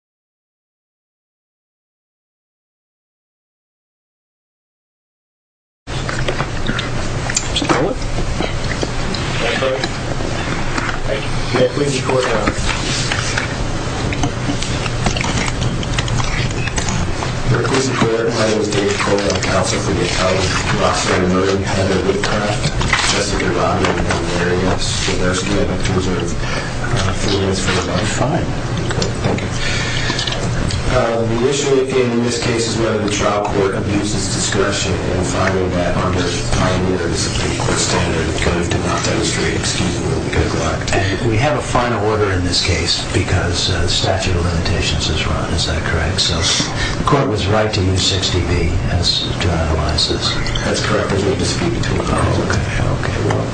Americas The issue in this case is whether the trial court abuses discretion in finding that under Pioneer's standard code of debauchery. We have a final order in this case because the statute of limitations is run, is that correct? So the court was right to use 60B to analyze this? That's correct. There's no dispute between the parties. Okay. Well,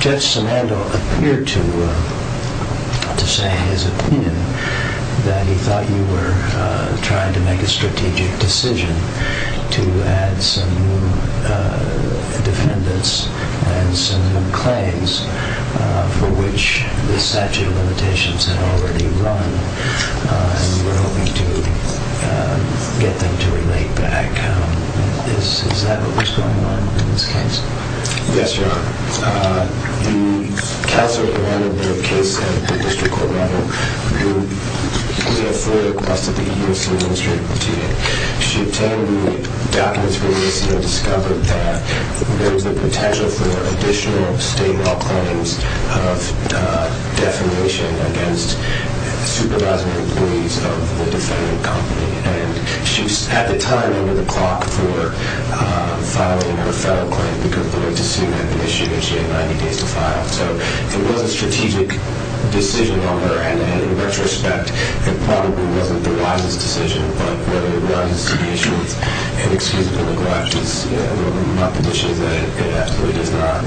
Judge Simandoe appeared to say in his opinion that he thought you were trying to make a strategic decision to add some new defendants and some new claims for which the statute of limitations had already run and you were hoping to get them to relate back. Is that what was going on in this case? Yes, Your Honor. The counsel who handled the case said to the district court matter, we have fully requested the EEOC administrative team. She attended the documents released and discovered that there was the potential for additional state law claims of defamation against supervising employees of the defendant company. And she was at the time over the clock for filing her federal claim because the way to sue had been issued and she had 90 days to file. So it was a strategic decision on her and in retrospect, it probably wasn't the wisest decision. But whether it was the issue of inexcusable neglect is not the issue that it absolutely does not.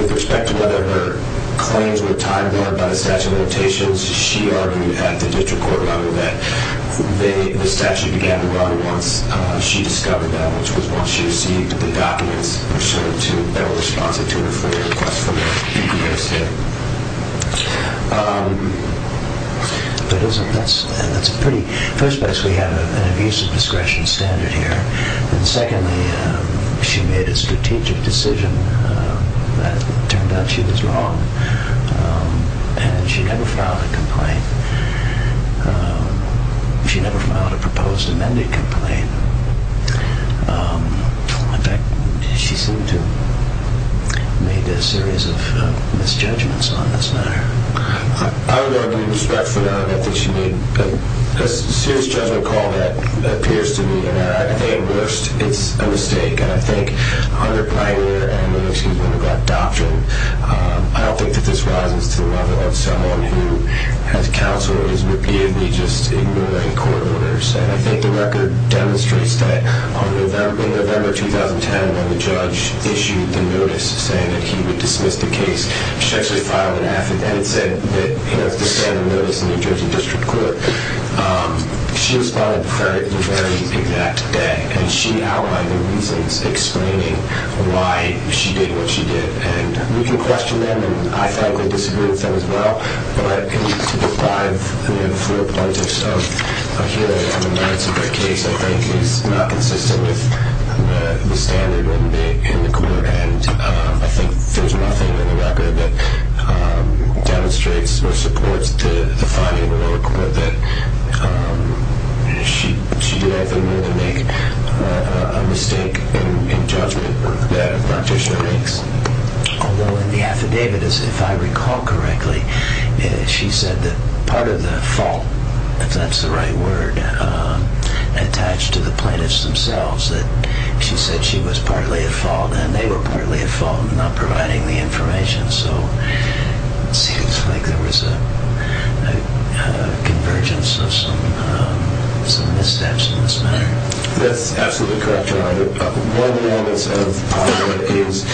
With respect to whether her claims were tied by the statute of limitations, she argued at the district court matter that the statute began to run once she discovered that, which was once she received the documents to federal responsibility for the request for the EEOC. First of all, we have an abuse of discretion standard here. And secondly, she made a strategic decision that turned out she was wrong and she never filed a complaint. She never filed a proposed amended complaint. In fact, she seemed to have made a series of misjudgments on this matter. I would argue with respect for that. I think she made a serious judgment call that appears to me at a worst. It's a mistake. I don't think that this rises to the level of someone who has counsel and is just ignoring court orders. I think the record demonstrates that in November 2010, when the judge issued the notice saying that he would dismiss the case, she actually filed an affidavit and said that he has to send a notice to the New Jersey District Court. She responded the very exact day. And she outlined the reasons explaining why she did what she did. And we can question them. And I thought they disagreed with them as well. But to deprive four plaintiffs of a hearing on the merits of their case I think is not consistent with the standard in the court. And I think there's nothing in the record that demonstrates or supports the finding of the court that she did nothing more than make a mistake in judgment that a practitioner makes. Although in the affidavit, if I recall correctly, she said that part of the fault, if that's the right word, attached to the plaintiffs themselves. She said she was partly at fault and they were partly at fault in not providing the information. So it seems like there was a convergence of some missteps in this matter. I think one of the elements of Alba is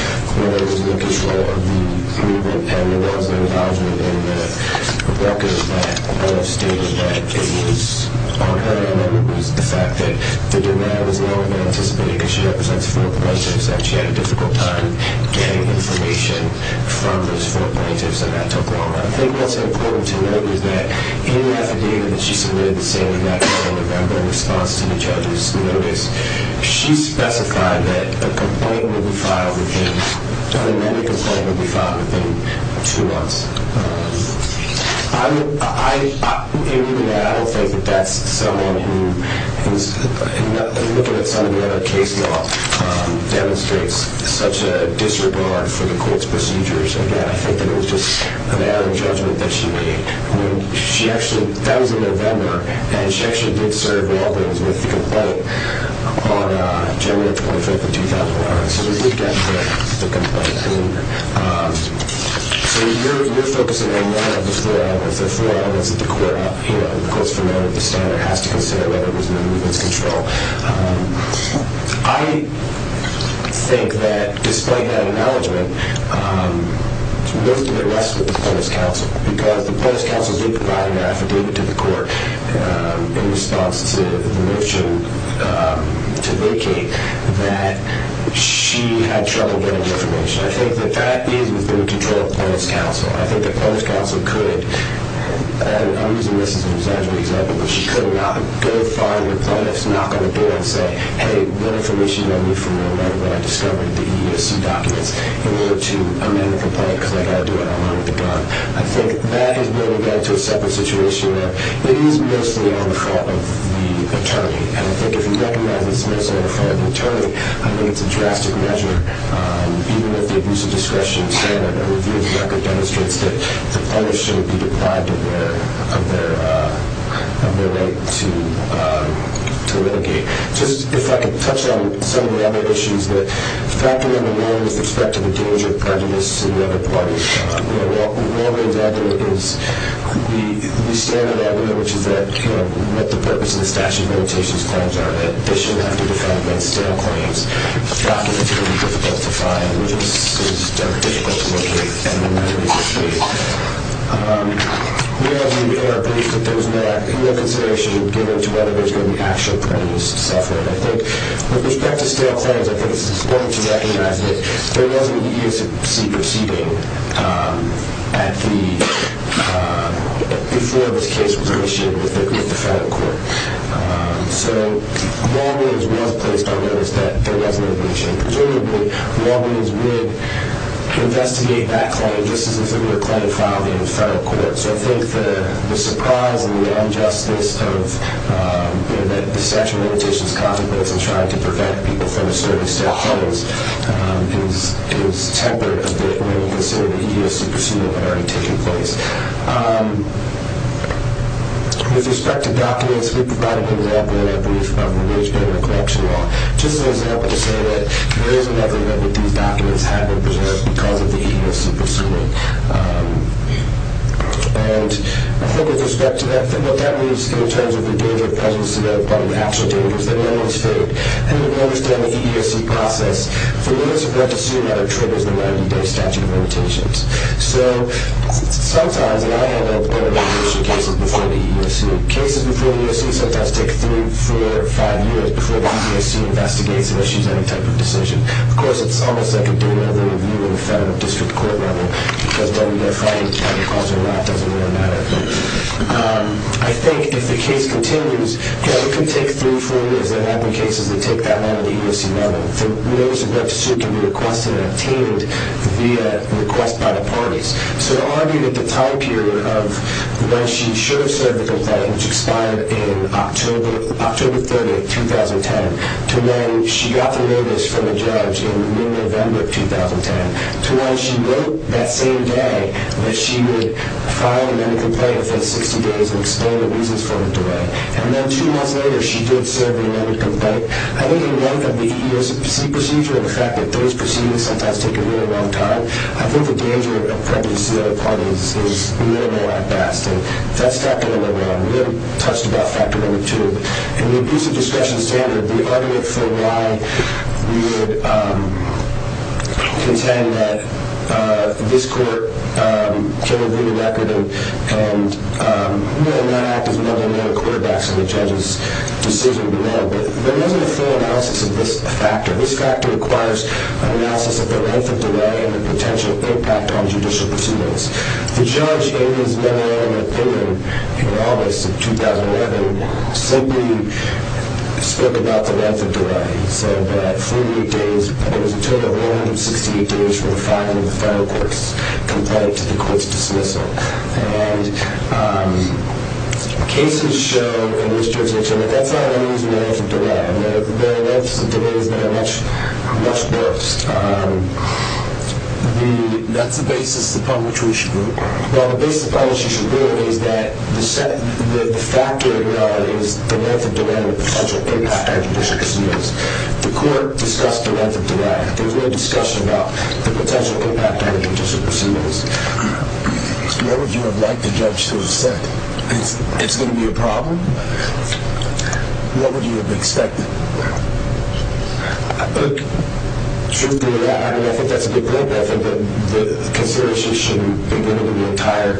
whether it was in the control of the group and whether it was in Alba in the record that Alba stated that it was on her. And then it was the fact that the demand was lower than anticipated because she represents four plaintiffs and she had a difficult time getting information from those four plaintiffs. And that took longer. And I think what's important to note is that in the affidavit that she submitted the same day, November, in response to the judge's notice, she specified that a complaint would be filed within, an amended complaint would be filed within two months. I don't think that that's someone who, in looking at some of the other case law, demonstrates such a disregard for the court's procedures. Again, I think that it was just an error in judgment that she made. I mean, she actually, that was in November, and she actually did serve all those with the complaint on January 25th of 2001. So we did get the complaint. So you're focusing on one of the four elements of the court. Of course, from there, the standard has to consider whether it was in the movement's control. I think that, despite that acknowledgement, most of it rests with the plaintiff's counsel because the plaintiff's counsel did provide an affidavit to the court in response to the motion to vacate that she had trouble getting information. I think that that is within the control of the plaintiff's counsel. I think the plaintiff's counsel could, and I'm using this as an exaggerated example, but she could not go far to the plaintiff's, knock on the door and say, hey, what information do you need from me right now that I discovered the EEOC documents in order to amend the complaint because I've got to do it online with a gun? I think that is building that into a separate situation where it is mostly on the fault of the attorney. And I think if you recognize it's mostly on the fault of the attorney, I think it's a drastic measure. Even if the abusive discretion standard review of the record demonstrates that the plaintiff should be deprived of their right to litigate. Just, if I could touch on some of the other issues that faculty in the law is expected to gauge with prejudice in the other parties. One example is the standard argument, which is that, you know, what the purpose of the statute of limitations claims are, that they should have to defend against stale claims, documents that are difficult to find, which is difficult to locate and to litigate. We are pleased that there is no consideration given to whether there is going to be actual prejudice suffered. I think, with respect to stale claims, I think it's important to recognize that there was an EEOC proceeding before this case was initiated with the federal court. So, law means was placed on notice that there was litigation. Presumably, law means would investigate that claim just as if it were a claim filed in the federal court. So, I think the surprise and the injustice of, you know, that the statute of limitations contemplates in trying to prevent people from establishing stale claims is tempered a bit when we consider the EEOC proceeding had already taken place. With respect to documents, we provided an example, I believe, from the wage-bearing recollection law, just as an example to say that there is another note that these documents had been preserved because of the EEOC proceeding. And, I think, with respect to what that means in terms of the danger of prejudice, the actual danger is that none of it is faked. And, we understand the EEOC process. For those who want to assume that it triggers the writing of the statute of limitations. So, sometimes, and I had a number of cases before the EEOC. Cases before the EEOC sometimes take three, four, five years before the EEOC investigates and issues any type of decision. Of course, it's almost like doing another review in a federal district court level because then they're fighting and the cause of the law doesn't really matter. But, I think, if the case continues, yeah, it can take three, four years. There have been cases that take that long in the EEOC model. The notice of that decision can be requested and obtained via request by the parties. So, to argue that the time period of when she should have said the complaint, which expired in October 30, 2010, to when she got the notice from the judge in mid-November of 2010, to when she wrote that same day that she would file an amended complaint for 60 days and explain the reasons for the delay. And then, two months later, she did serve an amended complaint. I think, in light of the EEOC procedure and the fact that those proceedings sometimes take a very long time, I think the danger of pregnancy that it causes is minimal at best. And, that's not going to go wrong. We haven't touched about factor number two. In the abusive discretion standard, the argument for why we would contend that this court can review the record and, you know, not act as non-linear quarterbacks in the judge's decision, but there wasn't a full analysis of this factor. This factor requires an analysis of the length of delay and the potential impact on judicial proceedings. The judge, in his memo in an opinion in August of 2011, simply spoke about the length of delay. He said that 48 days, it was a total of 168 days from filing the final quotes compared to the court's dismissal. And, cases show in this jurisdiction that that's not an unreasonable length of delay. There are lengths of delays that are much worse. That's the basis upon which we should rule. Well, the basis upon which you should rule is that the fact that it was the length of delay and the potential impact on judicial proceedings. The court discussed the length of delay. There was no discussion about the potential impact on judicial proceedings. What would you have liked the judge to have said? It's going to be a problem? What would you have expected? Truth be told, I think that's a good point. I think the consideration should be limited to the entire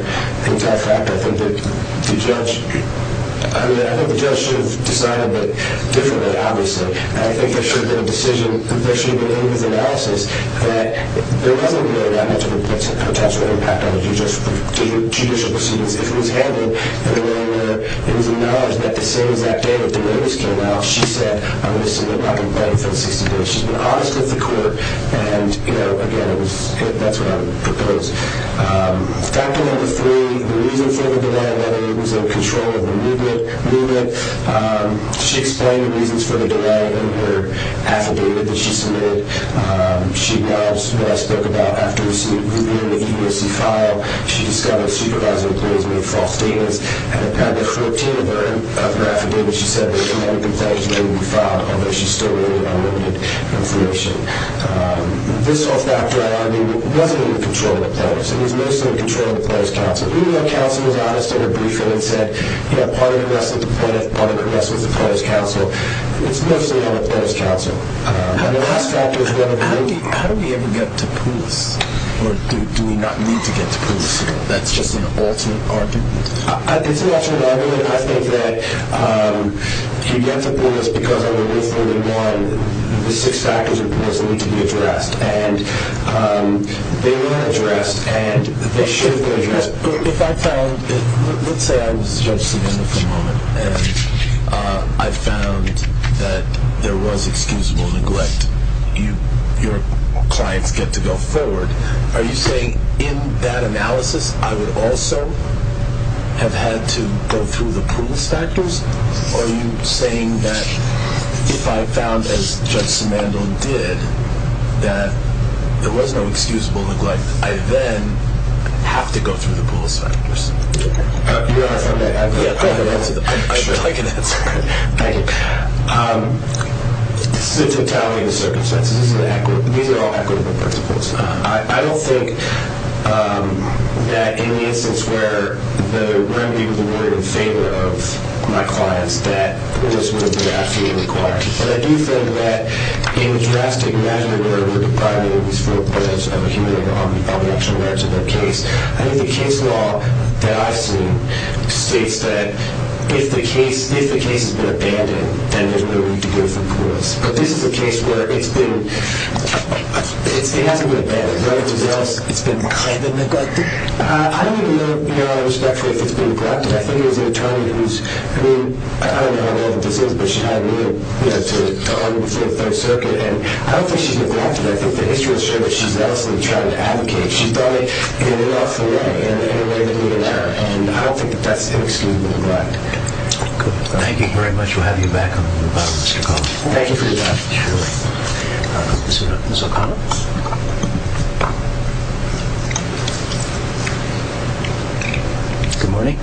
fact. I think the judge should have decided a bit differently, obviously. I think there should have been a decision. There should have been an analysis that there wasn't really that much of a potential impact on judicial proceedings. If it was handled in a way where it was acknowledged that the same exact day that the notice came out, she said, I'm going to submit my complaint for the 60 days. She's been honest with the court, and, you know, again, that's what I would propose. Factor number three, the reason for the delay, whether it was in control of the movement. She explained the reasons for the delay in her affidavit that she submitted. She acknowledged what I spoke about after receiving the U.S.C. file. She discovered supervising employees made false statements. At the 14th of her affidavit, she said that a number of complaints were going to be filed, although she's still waiting on limited information. This whole factor, I mean, wasn't in control of the plaintiffs. It was mostly in control of the plaintiffs' counsel. Even though counsel was honest in her briefing and said, you know, part of the rest of the plaintiff, part of the rest was the plaintiffs' counsel, it's mostly on the plaintiffs' counsel. And the last factor is whether the movement— How do we ever get to Poulos? Or do we not need to get to Poulos? That's just an alternate argument. It's an alternate argument. I think that you get to Poulos because under Rule 31, the six factors are supposedly to be addressed. And they were addressed, and they should have been addressed. If I found—let's say I was Judge Savino for a moment, and I found that there was excusable neglect, your clients get to go forward. Are you saying in that analysis I would also have had to go through the Poulos factors? Or are you saying that if I found, as Judge Simandl did, that there was no excusable neglect, I then have to go through the Poulos factors? You're asking me? Yeah, go ahead. I'd like an answer. Thank you. This is a totality of the circumstances. These are all equitable principles. I don't think that in the instance where the remedy was awarded in favor of my clients, that Poulos would have been absolutely required. But I do think that in drastic measure, where we're depriving these four parties of a human right on the actual merits of their case, I think the case law that I've seen states that if the case has been abandoned, then there's no need to go through Poulos. But this is a case where it's been, it hasn't been abandoned. It's been neglected. I don't even know out of respect for if it's been neglected. I think there's an attorney who's, I mean, I don't know how bad this is, but she had an ear to argue before the Third Circuit, and I don't think she's neglected. I think the history will show that she's obviously trying to advocate. She's done it in an awful way, in a way that we didn't have, and I don't think that that's inexcusable neglect. Thank you very much. We'll have you back on the phone. Thank you. Good morning.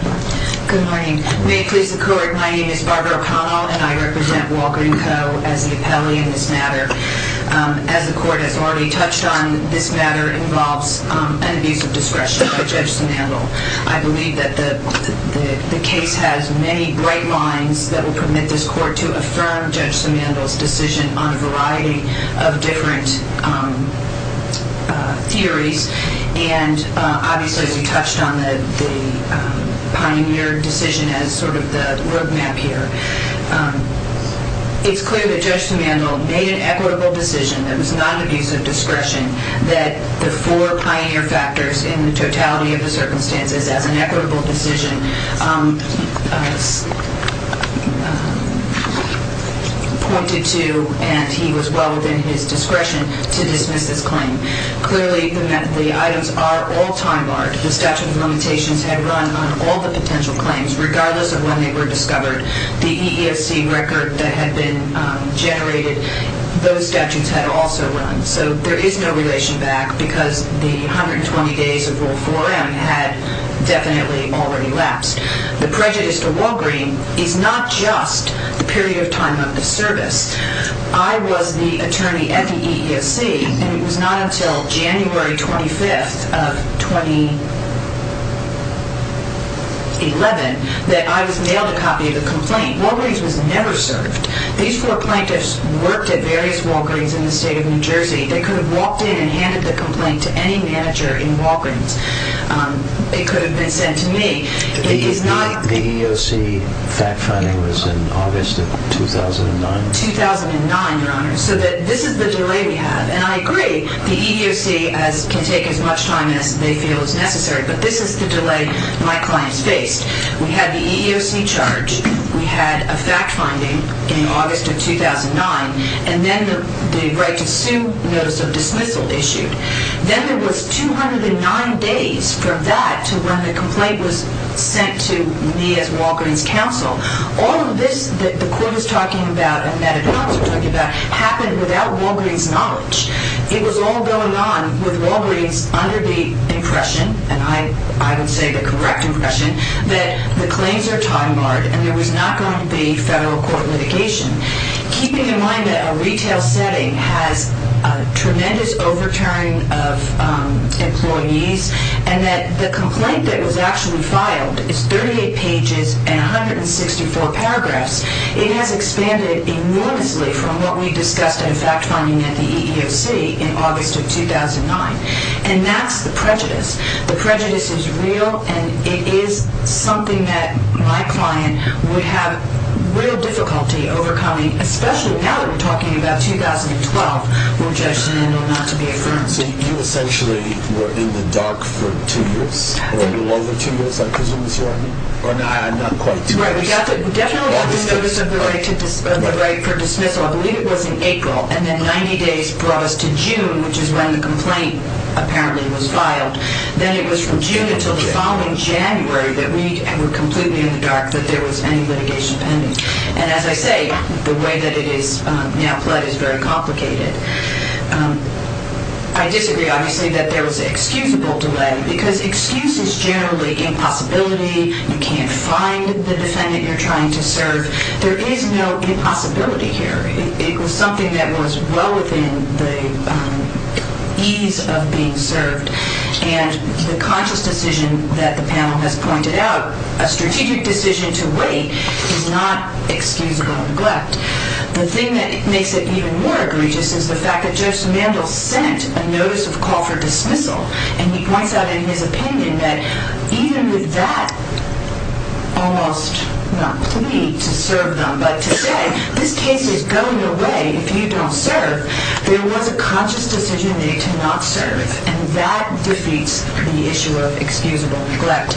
Good morning. May it please the Court, my name is Barbara O'Connell, and I represent Walker & Co. as the appellee in this matter. As the Court has already touched on, this matter involves an abuse of discretion by Judge Sam Handel. I believe that the case has many bright lines that will permit this Court to affirm Judge Sam Handel's decision on a variety of different theories, and obviously, as you touched on, the pioneer decision as sort of the roadmap here. It's clear that Judge Sam Handel made an equitable decision that was not abuse of discretion, that the four pioneer factors in the totality of the circumstances as an equitable decision pointed to, and he was well within his discretion to dismiss this claim. Clearly, the items are all time-barred. The statute of limitations had run on all the potential claims, regardless of when they were discovered. The EEOC record that had been generated, those statutes had also run. So there is no relation back, because the 120 days of Rule 4M had definitely already lapsed. The prejudice to Walgreen is not just the period of time of the service. I was the attorney at the EEOC, and it was not until January 25th of 2011 that I was mailed a copy of the complaint. Walgreens was never served. These four plaintiffs worked at various Walgreens in the state of New Jersey. They could have walked in and handed the complaint to any manager in Walgreens. It could have been sent to me. The EEOC fact-finding was in August of 2009? 2009, Your Honor. So this is the delay we have, and I agree. The EEOC can take as much time as they feel is necessary, but this is the delay my clients faced. We had the EEOC charge. We had a fact-finding in August of 2009, and then the right-to-sue notice of dismissal issued. Then there was 209 days from that to when the complaint was sent to me as Walgreens counsel. All of this that the Court is talking about, and that ad hocs are talking about, happened without Walgreens knowledge. It was all going on with Walgreens under the impression, and I would say the correct impression, that the claims are time-barred and there was not going to be federal court litigation, keeping in mind that a retail setting has a tremendous overturn of employees and that the complaint that was actually filed is 38 pages and 164 paragraphs. It has expanded enormously from what we discussed in fact-finding at the EEOC in August of 2009, and that's the prejudice. The prejudice is real, and it is something that my client would have real difficulty overcoming, especially now that we're talking about 2012, which I stand on not to be affirmed. So you essentially were in the dark for two years, or a little over two years, I presume is what I mean? Or not quite two years. Right, we definitely got the notice of the right for dismissal, I believe it was in April, and then 90 days brought us to June, which is when the complaint apparently was filed. Then it was from June until the following January that we were completely in the dark that there was any litigation pending. And as I say, the way that it is now pled is very complicated. I disagree, obviously, that there was excusable delay, because excuse is generally impossibility. You can't find the defendant you're trying to serve. There is no impossibility here. It was something that was well within the ease of being served, and the conscious decision that the panel has pointed out, a strategic decision to wait, is not excusable neglect. The thing that makes it even more egregious is the fact that Joseph Mandel sent a notice of call for dismissal, and he points out in his opinion that even with that almost not plea to serve them, but to say, this case is going away if you don't serve, there was a conscious decision made to not serve, and that defeats the issue of excusable neglect.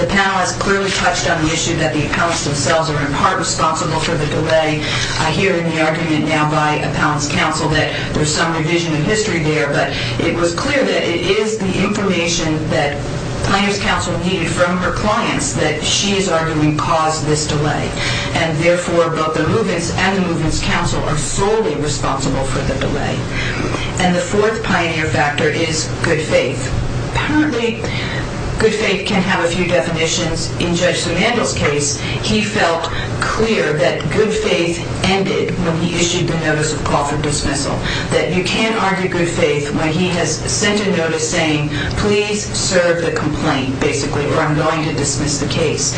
The panel has clearly touched on the issue that the appellants themselves are in part responsible for the delay. I hear in the argument now by appellants' counsel that there's some revision in history there, but it was clear that it is the information that plaintiff's counsel needed from her clients that she is arguing caused this delay, and therefore both the movements and the movements' counsel are solely responsible for the delay. And the fourth pioneer factor is good faith. Apparently, good faith can have a few definitions. In Judge Mandel's case, he felt clear that good faith ended when he issued the notice of call for dismissal, that you can't argue good faith when he has sent a notice saying, please serve the complaint, basically, or I'm going to dismiss the case.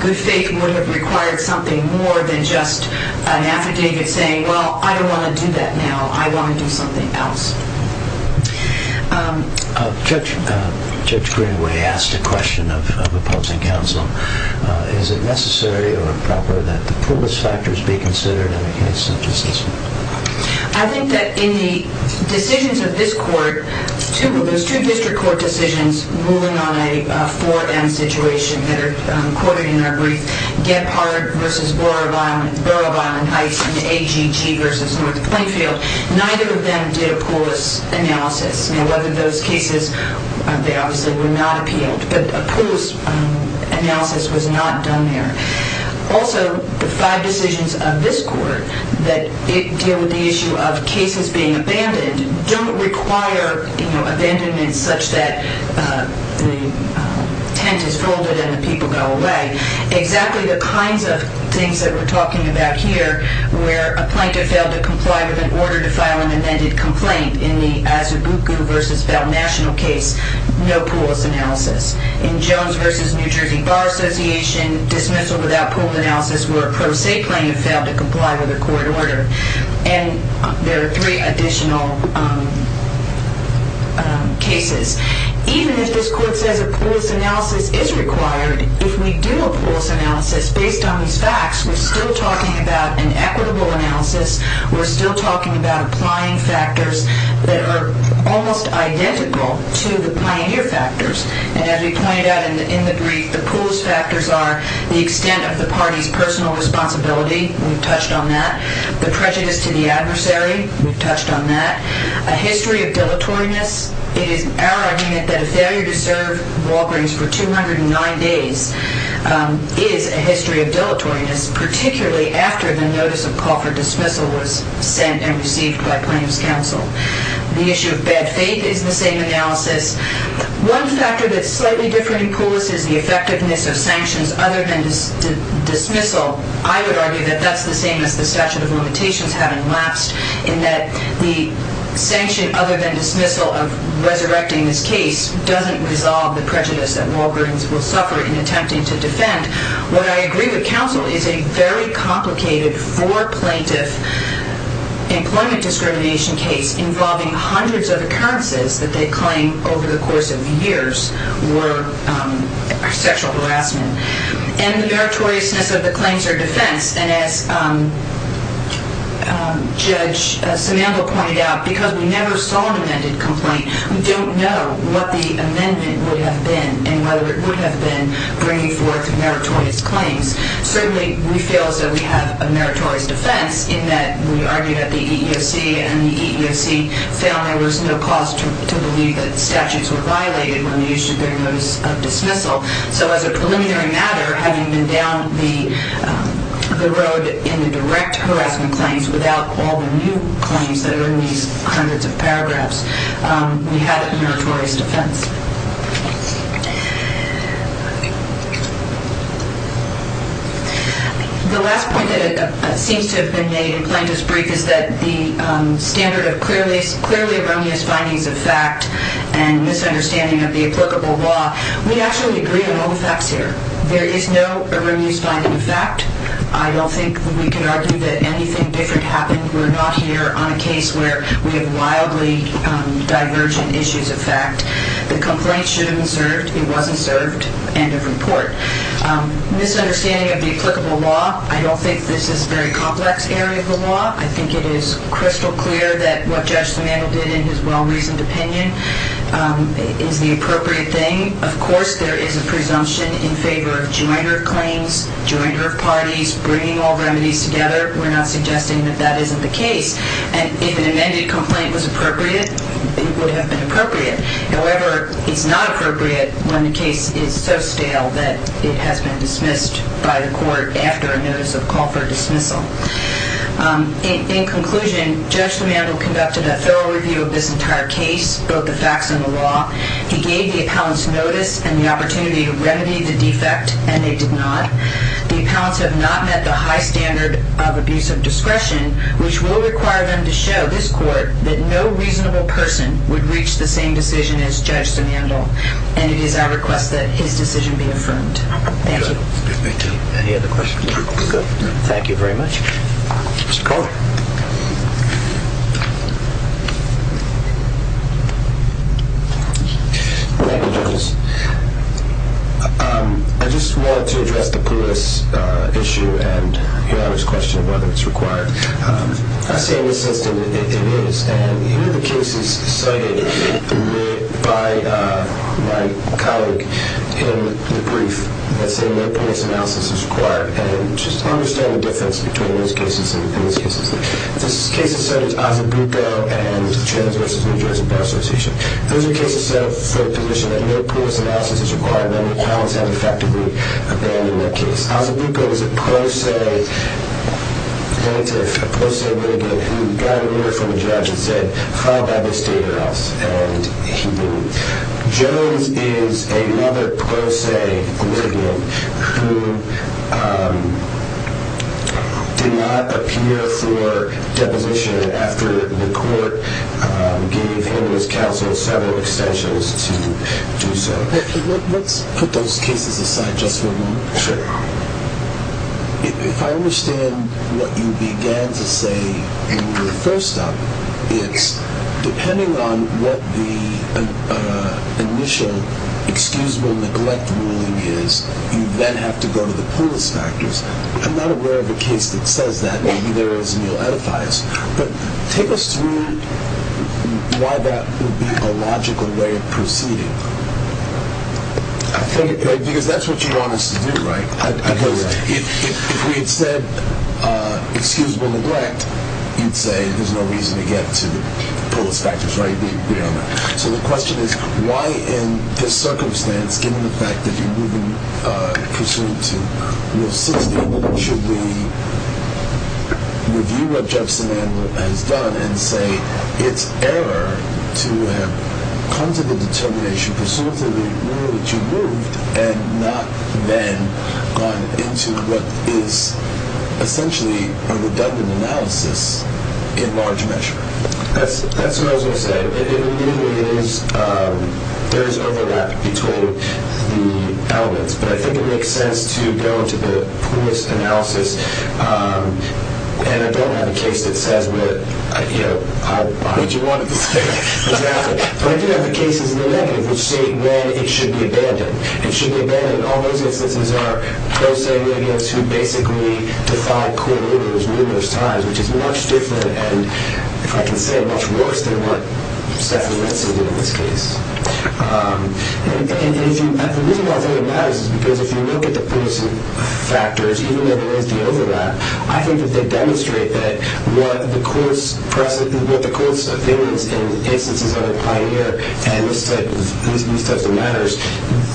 Good faith would have required something more than just an affidavit saying, well, I don't want to do that now, I want to do something else. Judge Greenway asked a question of opposing counsel. Is it necessary or proper that the poorest factors be considered in a case such as this one? I think that in the decisions of this court, there's two district court decisions moving on a 4M situation that are quoted in our brief, Gephardt v. Borough of Island Heights and the AGG v. North Plainfield. Neither of them did a polis analysis. Now, whether those cases, they obviously were not appealed, but a polis analysis was not done there. Also, the five decisions of this court that deal with the issue of cases being abandoned don't require abandonment such that the tent is folded and the people go away. Exactly the kinds of things that we're talking about here where a plaintiff failed to comply with an order to file an amended complaint in the Asabuku v. Valnational case, no polis analysis. In Jones v. New Jersey Bar Association, dismissal without polis analysis where a pro se plaintiff failed to comply with a court order. And there are three additional cases. Even if this court says a polis analysis is required, if we do a polis analysis based on these facts, we're still talking about an equitable analysis. We're still talking about applying factors that are almost identical to the pioneer factors. And as we pointed out in the brief, the polis factors are the extent of the party's personal responsibility. We've touched on that. The prejudice to the adversary. We've touched on that. A history of dilatoriness. It is our argument that a failure to serve Walgreens for 209 days is a history of dilatoriness, particularly after the notice of call for dismissal was sent and received by plaintiff's counsel. The issue of bad faith is the same analysis. One factor that's slightly different in polis is the effectiveness of sanctions other than dismissal. I would argue that that's the same as the statute of limitations having lapsed in that the sanction other than dismissal of resurrecting this case doesn't resolve the prejudice that Walgreens will suffer in attempting to defend. What I agree with counsel is a very complicated for plaintiff employment discrimination case involving hundreds of occurrences that they claim over the course of years were sexual harassment. And the meritoriousness of the claims are defense. And as Judge Samandel pointed out, because we never saw an amended complaint, we don't know what the amendment would have been and whether it would have been bringing forth meritorious claims. Certainly, we feel that we have a meritorious defense in that we argue that the EEOC and the EEOC found there was no cause to believe that statutes were violated when they issued their notice of dismissal. So as a preliminary matter, having been down the road in the direct harassment claims without all the new claims that are in these hundreds of paragraphs, we have a meritorious defense. The last point that seems to have been made in Plaintiff's brief is that the standard of clearly erroneous findings of fact and misunderstanding of the applicable law, we actually agree on all the facts here. There is no erroneous finding of fact. I don't think we could argue that anything different happened. We're not here on a case where we have wildly divergent issues of fact. The complaint should have been served. It wasn't served. End of report. Misunderstanding of the applicable law, I don't think this is a very complex area of the law. I think it is crystal clear that what Judge Samandel did in his well-reasoned opinion is the appropriate thing. Of course, there is a presumption in favor of jointer claims, jointer of parties, bringing all remedies together. We're not suggesting that that isn't the case. And if an amended complaint was appropriate, it would have been appropriate. However, it's not appropriate when the case is so stale that it has been dismissed by the court after a notice of call for dismissal. In conclusion, Judge Samandel conducted a thorough review of this entire case, both the facts and the law. He gave the appellants notice and the opportunity to remedy the defect, and they did not. The appellants have not met the high standard of abuse of discretion, which will require them to show this court that no reasonable person would reach the same decision as Judge Samandel. And it is our request that his decision be affirmed. Thank you. Any other questions? Good. Thank you very much. Mr. Carter. Thank you, judges. I just wanted to address the PULIS issue, and you know I was questioning whether it's required. I say in this instance it is, and here are the cases cited by my colleague in the brief that say no PULIS analysis is required, and just understand the difference between those cases and these cases. This case is cited as Osibuco and Trans versus New Jersey Bar Association. Those are cases set for a position that no PULIS analysis is required. None of the appellants have effectively abandoned that case. Osibuco is a pro se plaintiff, a pro se litigant, who got a letter from a judge that said, file by this date or else, and he didn't. Jones is another pro se litigant who did not appear for deposition after the court gave him or his counsel several extensions to do so. Let's put those cases aside just for a moment. Sure. If I understand what you began to say when you were first up, it's depending on what the initial excusable neglect ruling is, you then have to go to the PULIS factors. I'm not aware of a case that says that. But take us through why that would be a logical way of proceeding. Because that's what you want us to do, right? If we had said excusable neglect, you'd say there's no reason to get to the PULIS factors, right? So the question is why in this circumstance, given the fact that you're moving pursuant to Rule 16, why then should we review what Judson has done and say it's error to have come to the determination pursuant to the rule that you moved and not then gone into what is essentially a redundant analysis in large measure? That's what I was going to say. There is overlap between the elements, but I think it makes sense to go to the PULIS analysis. And I don't have a case that says what you wanted to say. But I do have the cases in the negative which state when it should be abandoned. It should be abandoned in all those instances are pro se radios who basically defied court orders numerous times, which is much different and, if I can say it, much worse than what Stefan Retzel did in this case. And the reason why I think it matters is because if you look at the PULIS factors, even though there is the overlap, I think that they demonstrate that what the court's opinions in instances of the Pioneer and these types of matters,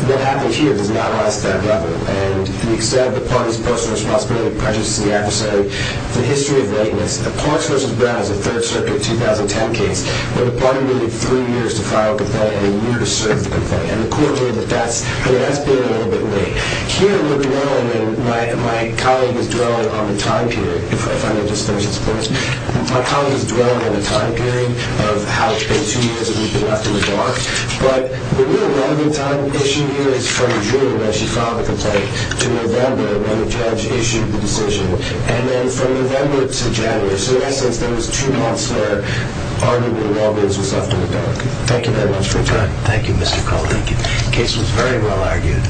what happened here does not rise to that level. And the extent of the party's personal responsibility to prejudice the adversary, the history of readiness. The Parks v. Brown is a Third Circuit 2010 case where the party waited three years to file a complaint and a year to serve the complaint. And the court ruled that that's been a little bit late. Here, we're dwelling, and my colleague is dwelling on the time period, if I may just finish this point. My colleague is dwelling on the time period of how it's been two years that we've been left in the dark. But the real running time issue here is from June, when she filed the complaint, to November, when the judge issued the decision. And then from November to January, so in essence, those two months that are arguably longer is what's left in the dark. Thank you very much for your time. Thank you, Mr. Cole. The case was very well argued.